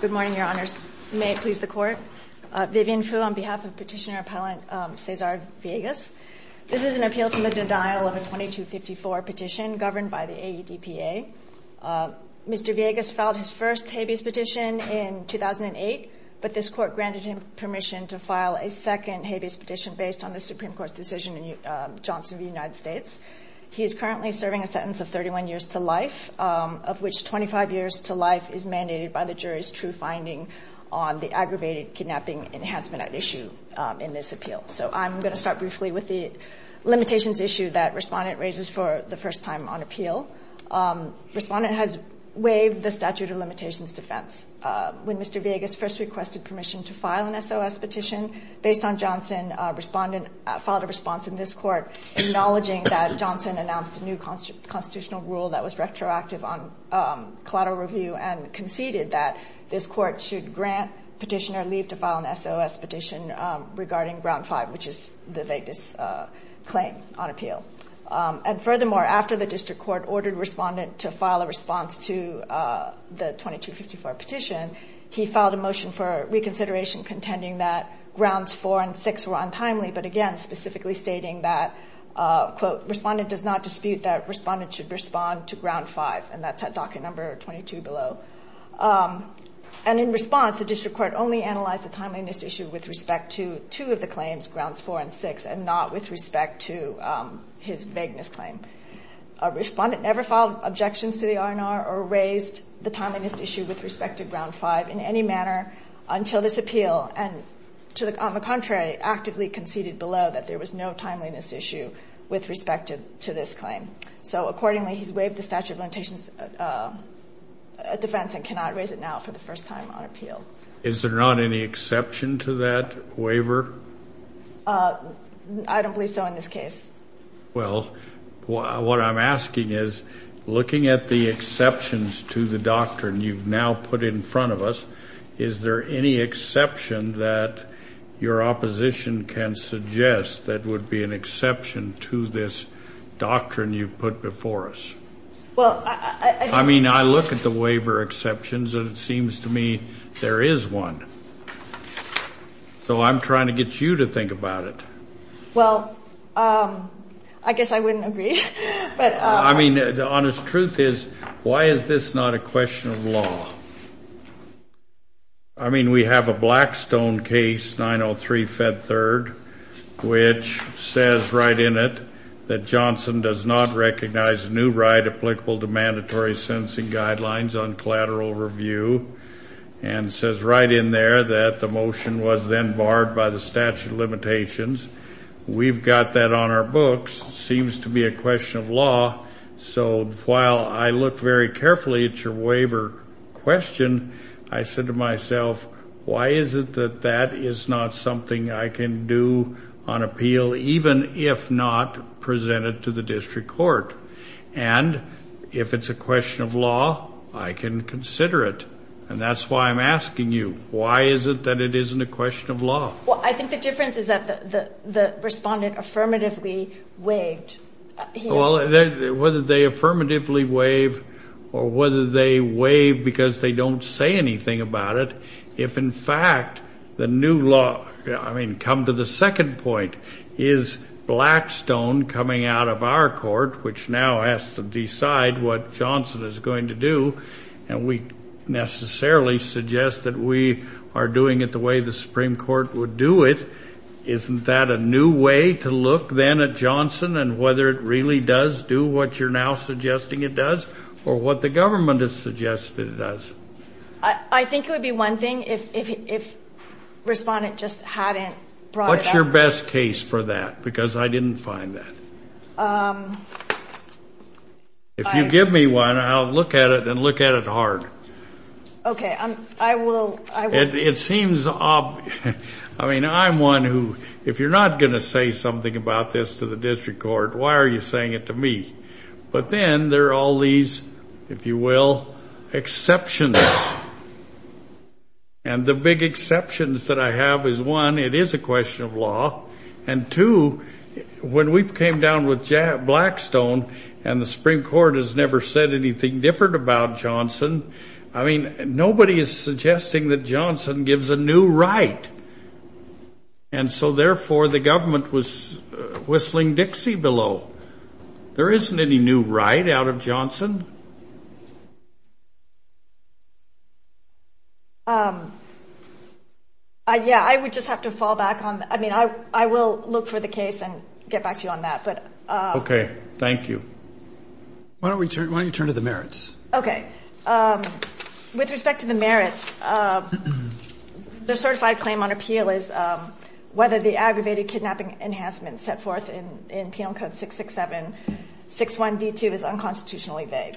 Good morning, Your Honors. May it please the Court. Vivian Phu on behalf of Petitioner Appellant Cesar Villegas. This is an appeal from the denial of a 2254 petition governed by the AEDPA. Mr. Villegas filed his first habeas petition in 2008, but this Court granted him permission to file a second habeas petition based on the Supreme Court's decision in Johnson v. United States. He is currently serving a sentence of 31 years to life, of which 25 years to life is mandated by the jury's true finding on the aggravated kidnapping enhancement at issue in this appeal. So I'm going to start briefly with the limitations issue that Respondent raises for the first time on appeal. Respondent has waived the statute of limitations defense. When Mr. Villegas first requested permission to file an SOS petition based on Johnson, Respondent filed a response in this Court acknowledging that Johnson announced a new constitutional rule that was retroactive on collateral review and conceded that this Court should grant Petitioner leave to file an SOS petition regarding Ground 5, which is the vaguest claim on appeal. And furthermore, after the District Court ordered Respondent to file a response to the 2254 petition, he filed a motion for reconsideration contending that Grounds 4 and 6 were untimely, but again, specifically stating that, quote, Respondent does not dispute that Respondent should respond to Ground 5, and that's at docket number 22 below. And in response, the District Court only analyzed the timeliness issue with respect to two of the claims, Grounds 4 and 6, and not with respect to his vagueness claim. Respondent never filed objections to the R&R or raised the timeliness issue with respect to Ground 5 in any manner until this Court actively conceded below that there was no timeliness issue with respect to this claim. So accordingly, he's waived the statute of limitations defense and cannot raise it now for the first time on appeal. Is there not any exception to that waiver? I don't believe so in this case. Well, what I'm asking is, looking at the exceptions to the doctrine you've now put in front of us, is there any exception that your opposition can suggest that would be an exception to this doctrine you've put before us? I mean, I look at the waiver exceptions, and it seems to me there is one. So I'm trying to get you to think about it. Well, I guess I wouldn't agree. I mean, the honest truth is, why is this not a question of law? I mean, we have a Blackstone case, 903-Fed 3rd, which says right in it that Johnson does not recognize a new right applicable to mandatory sentencing guidelines on collateral review, and says right in there that the motion was then barred by the statute of limitations. We've got that on our books. It seems to be a question of law. So while I look very carefully at your waiver question, I said to myself, why is it that that is not something I can do on appeal, even if not presented to the district court? And if it's a question of law, I can consider it. And that's why I'm asking you, why is it that it isn't a question of law? Well, I think the difference is that the respondent affirmatively waived. Well, whether they affirmatively waive or whether they waive because they don't say anything about it, if in fact the new law, I mean, come to the second point, is Blackstone coming out of our court, which now has to decide what Johnson is going to do, and we necessarily suggest that we are doing it the way the Supreme Court would do it, isn't that a new way to look then at Johnson and whether it really does do what you're now suggesting it does or what the government is suggesting it does? I think it would be one thing if the respondent just hadn't brought it up. What's your best case for that? Because I didn't find that. If you give me one, I'll look at it and look at it hard. Okay, I will. It seems, I mean, I'm one who, if you're not going to say something about this to the district court, why are you saying it to me? But then there are all these, if you will, exceptions. And the big exceptions that I have is one, it is a question of law, and two, when we came down with Blackstone and the Supreme Court has never said anything different about Johnson, I mean, nobody is suggesting that Johnson gives a new right. And so, therefore, the government was whistling Dixie below. There isn't any new right out of Johnson. Yeah, I would just have to fall back on that. I mean, I will look for the case and get back to you on that. Okay, thank you. Why don't you turn to the merits? Okay. With respect to the merits, the certified claim on appeal is whether the aggravated kidnapping enhancement set forth in Penal Code 667, 61D2 is unconstitutionally vague.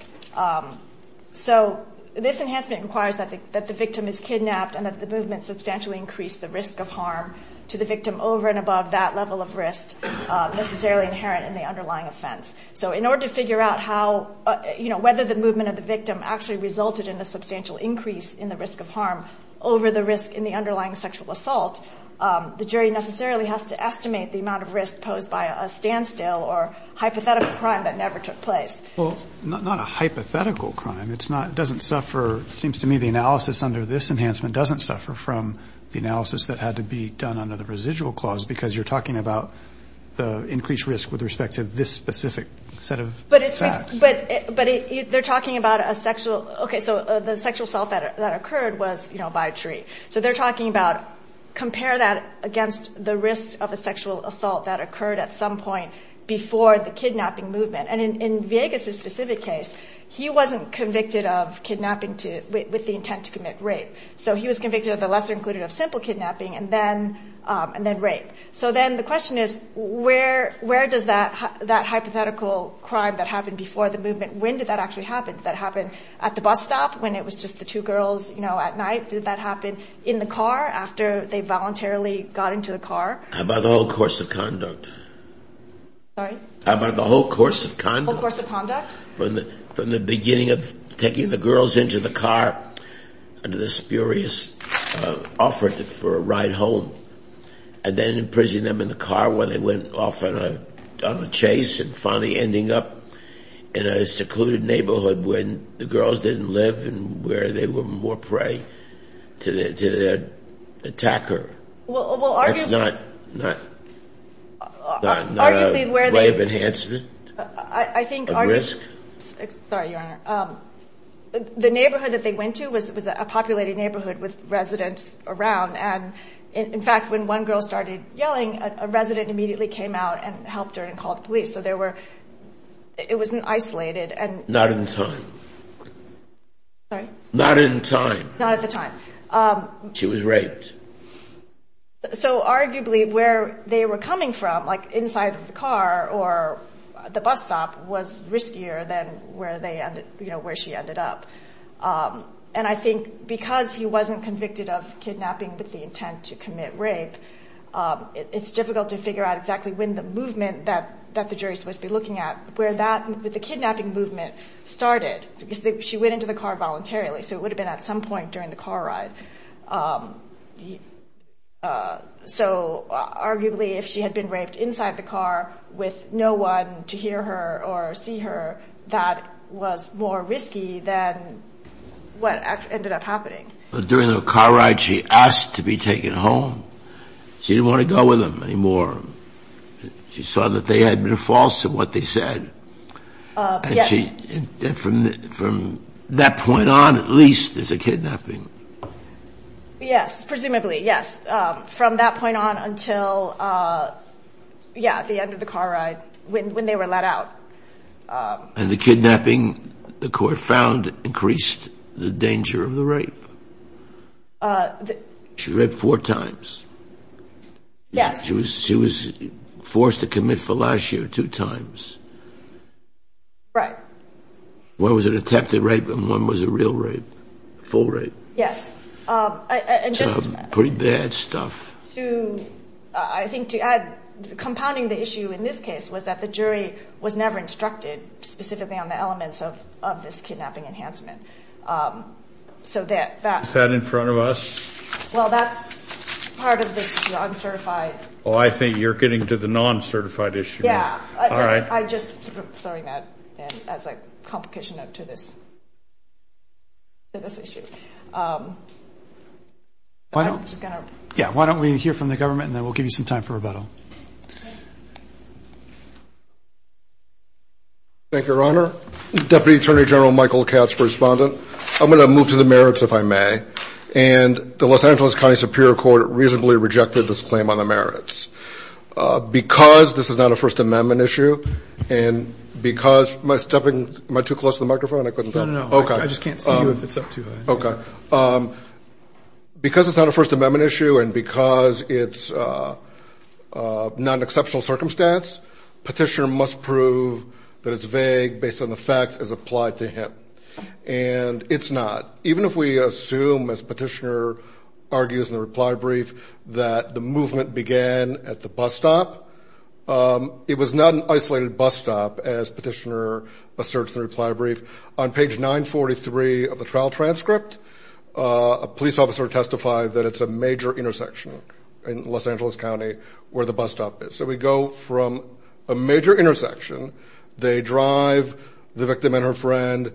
So this enhancement requires that the victim is kidnapped and that the movement substantially increase the risk of harm to the victim over and above that level of risk necessarily inherent in the underlying offense. So in order to figure out how, you know, whether the movement of the victim actually resulted in a substantial increase in the risk of harm over the risk in the underlying sexual assault, the jury necessarily has to estimate the amount of risk posed by a standstill or hypothetical crime that never took place. Well, not a hypothetical crime. It's not, doesn't suffer, seems to me the analysis under this enhancement doesn't suffer from the analysis that had to be done under the residual clause because you're talking about the increased risk with respect to this specific set of facts. But they're talking about a sexual, okay, so the sexual assault that occurred was, you know, by a tree. So they're talking about compare that against the risk of a sexual assault that occurred at some point before the kidnapping movement. And in Villegas' specific case, he wasn't convicted of kidnapping with the intent to commit rape. So he was convicted of the lesser included of simple kidnapping and then rape. So then the question is where does that hypothetical crime that happened before the movement, when did that actually happen? Did that happen at the bus stop when it was just the two girls, you know, at night? Did that happen in the car after they voluntarily got into the car? By the whole course of conduct. Sorry? By the whole course of conduct. The whole course of conduct? From the beginning of taking the girls into the car under the spurious offer for a ride home and then imprisoning them in the car while they went off on a chase and finally ending up in a secluded neighborhood where the girls didn't live and where they were more prey to their attacker. That's not a way of enhancement of risk? The neighborhood that they went to was a populated neighborhood with residents around and, in fact, when one girl started yelling, a resident immediately came out and helped her and called the police. So it was isolated. Not in time. Sorry? Not in time. Not at the time. She was raped. So arguably where they were coming from, like inside of the car or the bus stop, was riskier than where she ended up. And I think because he wasn't convicted of kidnapping with the intent to commit rape, it's difficult to figure out exactly when the movement that the jury's supposed to be looking at, where that kidnapping movement started. She went into the car voluntarily, so it would have been at some point during the car ride. So arguably if she had been raped inside the car with no one to hear her or see her, that was more risky than what ended up happening. During the car ride, she asked to be taken home. She didn't want to go with them anymore. She saw that they had been false in what they said. Yes. From that point on, at least, there's a kidnapping. Yes. Presumably, yes. From that point on until, yeah, the end of the car ride when they were let out. And the kidnapping, the court found, increased the danger of the rape. She raped four times. Yes. She was forced to commit for last year two times. Right. One was an attempted rape and one was a real rape, a full rape. Yes. So pretty bad stuff. I think to add, compounding the issue in this case was that the jury was never instructed specifically on the elements of this kidnapping enhancement. So that. Is that in front of us? Well, that's part of the uncertified. Oh, I think you're getting to the non-certified issue. Yeah. All right. I'm just throwing that in as a complication to this issue. Why don't we hear from the government and then we'll give you some time for rebuttal. Thank you, Your Honor. Deputy Attorney General Michael Katz, correspondent. I'm going to move to the merits, if I may. And the Los Angeles County Superior Court reasonably rejected this claim on the merits. Because this is not a First Amendment issue and because my stepping, am I too close to the microphone? I couldn't tell. No, no, no. Okay. I just can't see you if it's up too high. Okay. Because it's not a First Amendment issue and because it's not an exceptional circumstance, petitioner must prove that it's vague based on the facts as applied to him. And it's not. Even if we assume, as petitioner argues in the reply brief, that the movement began at the bus stop, it was not an isolated bus stop, as petitioner asserts in the reply brief. On page 943 of the trial transcript, a police officer testified that it's a major intersection in Los Angeles County where the bus stop is. So we go from a major intersection. They drive the victim and her friend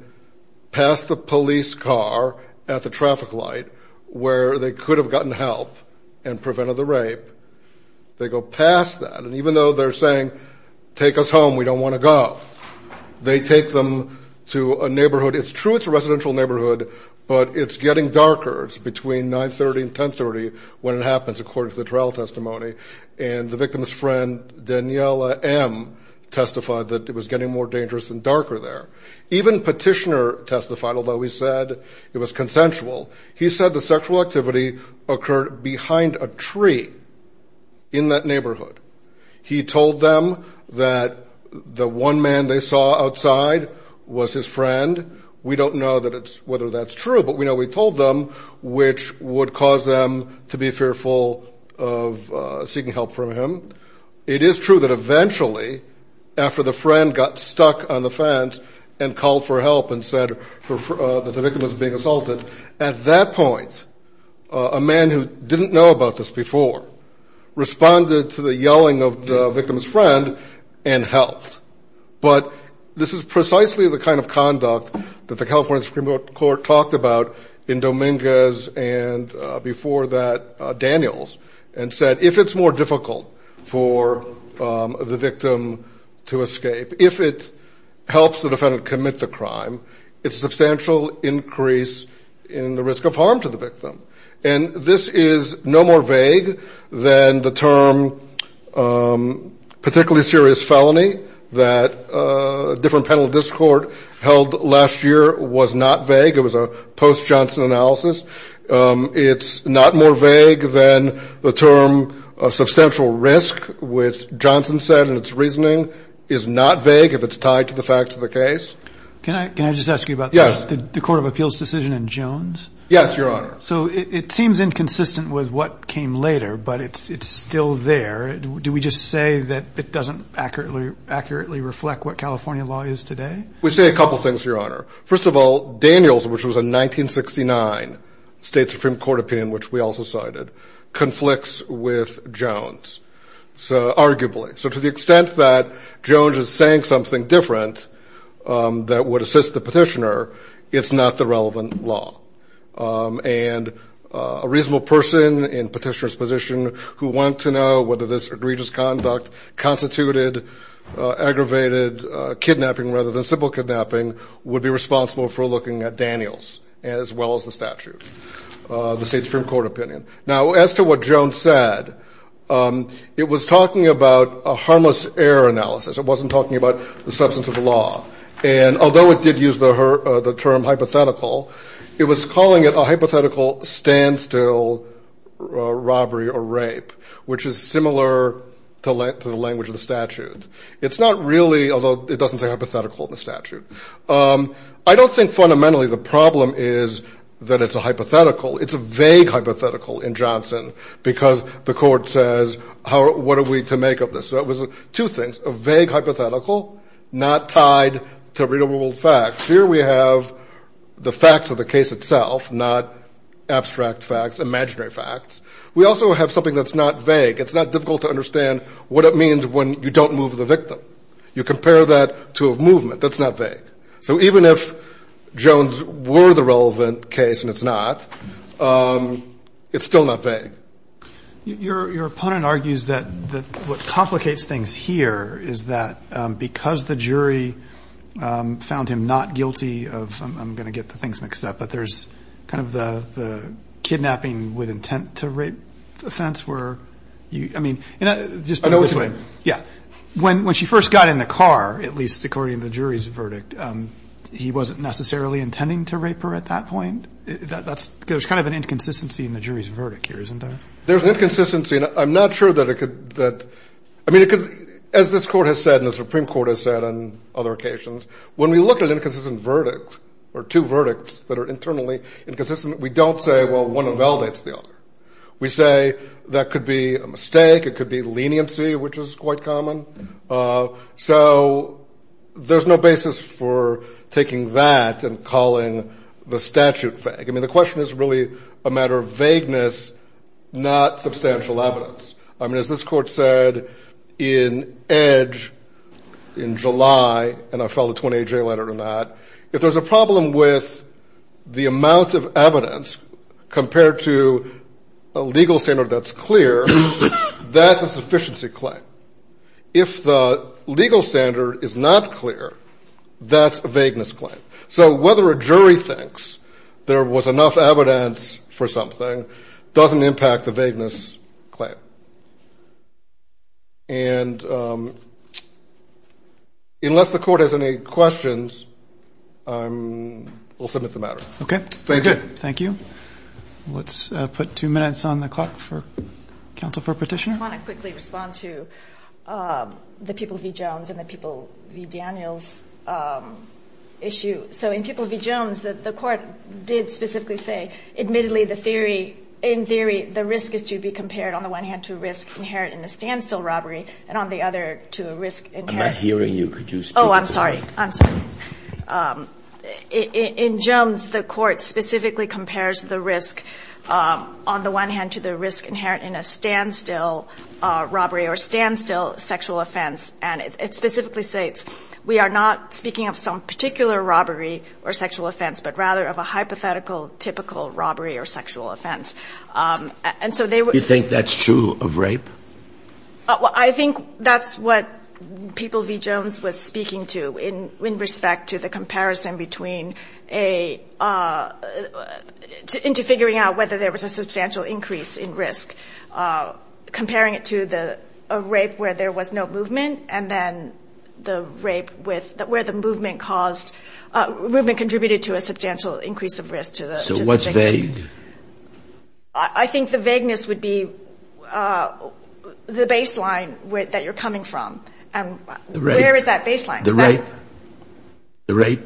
past the police car at the traffic light where they could have gotten help and prevented the rape. They go past that. And even though they're saying, take us home, we don't want to go, they take them to a neighborhood. It's true it's a residential neighborhood, but it's getting darker. It's between 930 and 1030 when it happens, according to the trial testimony. And the victim's friend, Daniela M., testified that it was getting more dangerous and darker there. Even petitioner testified, although he said it was consensual. He said the sexual activity occurred behind a tree in that neighborhood. He told them that the one man they saw outside was his friend. We don't know whether that's true, but we know he told them, which would cause them to be fearful of seeking help from him. It is true that eventually, after the friend got stuck on the fence and called for help and said that the victim was being assaulted, at that point a man who didn't know about this before responded to the yelling of the victim's friend and helped. But this is precisely the kind of conduct that the California Supreme Court talked about in Dominguez and before that Daniels and said, if it's more difficult for the victim to escape, if it helps the defendant commit the crime, it's a substantial increase in the risk of harm to the victim. And this is no more vague than the term particularly serious felony that a different panel of this court held last year was not vague. It was a post-Johnson analysis. It's not more vague than the term substantial risk, which Johnson said in its reasoning, is not vague if it's tied to the facts of the case. Can I just ask you about this? Yes. The court of appeals decision in Jones? Yes, Your Honor. So it seems inconsistent with what came later, but it's still there. Do we just say that it doesn't accurately reflect what California law is today? We say a couple things, Your Honor. First of all, Daniels, which was a 1969 state Supreme Court opinion, which we also cited, conflicts with Jones, arguably. So to the extent that Jones is saying something different that would assist the petitioner, it's not the relevant law. And a reasonable person in a petitioner's position who wanted to know whether this egregious conduct constituted aggravated kidnapping rather than simple kidnapping would be responsible for looking at Daniels as well as the statute, the state Supreme Court opinion. Now, as to what Jones said, it was talking about a harmless error analysis. It wasn't talking about the substance of the law. And although it did use the term hypothetical, it was calling it a hypothetical standstill robbery or rape, which is similar to the language of the statute. It's not really, although it doesn't say hypothetical in the statute. I don't think fundamentally the problem is that it's a hypothetical. It's a vague hypothetical in Johnson because the court says, what are we to make of this? So it was two things, a vague hypothetical not tied to readable facts. Here we have the facts of the case itself, not abstract facts, imaginary facts. We also have something that's not vague. It's not difficult to understand what it means when you don't move the victim. You compare that to a movement. That's not vague. So even if Jones were the relevant case and it's not, it's still not vague. Your opponent argues that what complicates things here is that because the jury found him not guilty of, I'm going to get the things mixed up, but there's kind of the kidnapping with intent to rape offense where, I mean. I know which way. Yeah. When she first got in the car, at least according to the jury's verdict, he wasn't necessarily intending to rape her at that point. There's kind of an inconsistency in the jury's verdict here, isn't there? There's an inconsistency. I'm not sure that it could. I mean, as this court has said and the Supreme Court has said on other occasions, when we look at inconsistent verdicts or two verdicts that are internally inconsistent, we don't say, well, one invalidates the other. We say that could be a mistake. It could be leniency, which is quite common. So there's no basis for taking that and calling the statute vague. I mean, the question is really a matter of vagueness, not substantial evidence. I mean, as this court said in Edge in July, and I filed a 28-J letter on that, if there's a problem with the amount of evidence compared to a legal standard that's clear, that's a sufficiency claim. If the legal standard is not clear, that's a vagueness claim. So whether a jury thinks there was enough evidence for something doesn't impact the vagueness claim. And unless the court has any questions, I will submit the matter. Okay. Thank you. Thank you. Let's put two minutes on the clock for counsel for petitioner. I want to quickly respond to the People v. Jones and the People v. Daniels issue. So in People v. Jones, the court did specifically say, admittedly, the theory, in theory, the risk is to be compared on the one hand to a risk inherent in a standstill robbery and on the other to a risk inherent in a standstill robbery. I'm not hearing you. Could you speak? Oh, I'm sorry. I'm sorry. In Jones, the court specifically compares the risk on the one hand to the risk inherent in a standstill robbery or standstill sexual offense. And it specifically states we are not speaking of some particular robbery or sexual offense, but rather of a hypothetical, typical robbery or sexual offense. And so they were – Do you think that's true of rape? I think that's what People v. Jones was speaking to in respect to the comparison between a – into figuring out whether there was a substantial increase in risk, comparing it to the rape where there was no movement and then the rape with – where the movement caused – movement contributed to a substantial increase of risk to the victim. So what's vague? I think the vagueness would be the baseline that you're coming from. And where is that baseline? The rape? The rape?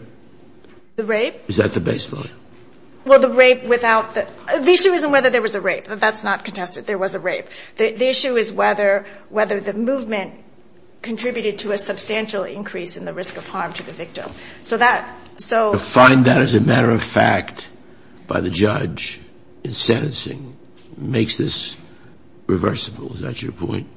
The rape? Is that the baseline? Well, the rape without – the issue isn't whether there was a rape. That's not contested. There was a rape. The issue is whether the movement contributed to a substantial increase in the risk of harm to the victim. So that – so – And that, as a matter of fact, by the judge in sentencing, makes this reversible. Is that your point?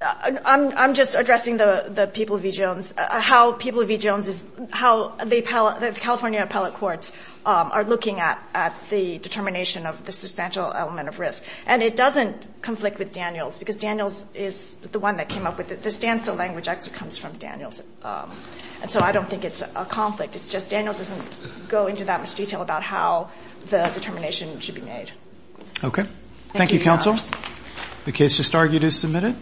I'm just addressing the People v. Jones. How People v. Jones is – how the California appellate courts are looking at the determination of the substantial element of risk. And it doesn't conflict with Daniels because Daniels is the one that came up with it. The standstill language actually comes from Daniels. And so I don't think it's a conflict. It's just Daniels doesn't go into that much detail about how the determination should be made. Okay. Thank you, counsel. The case just argued is submitted.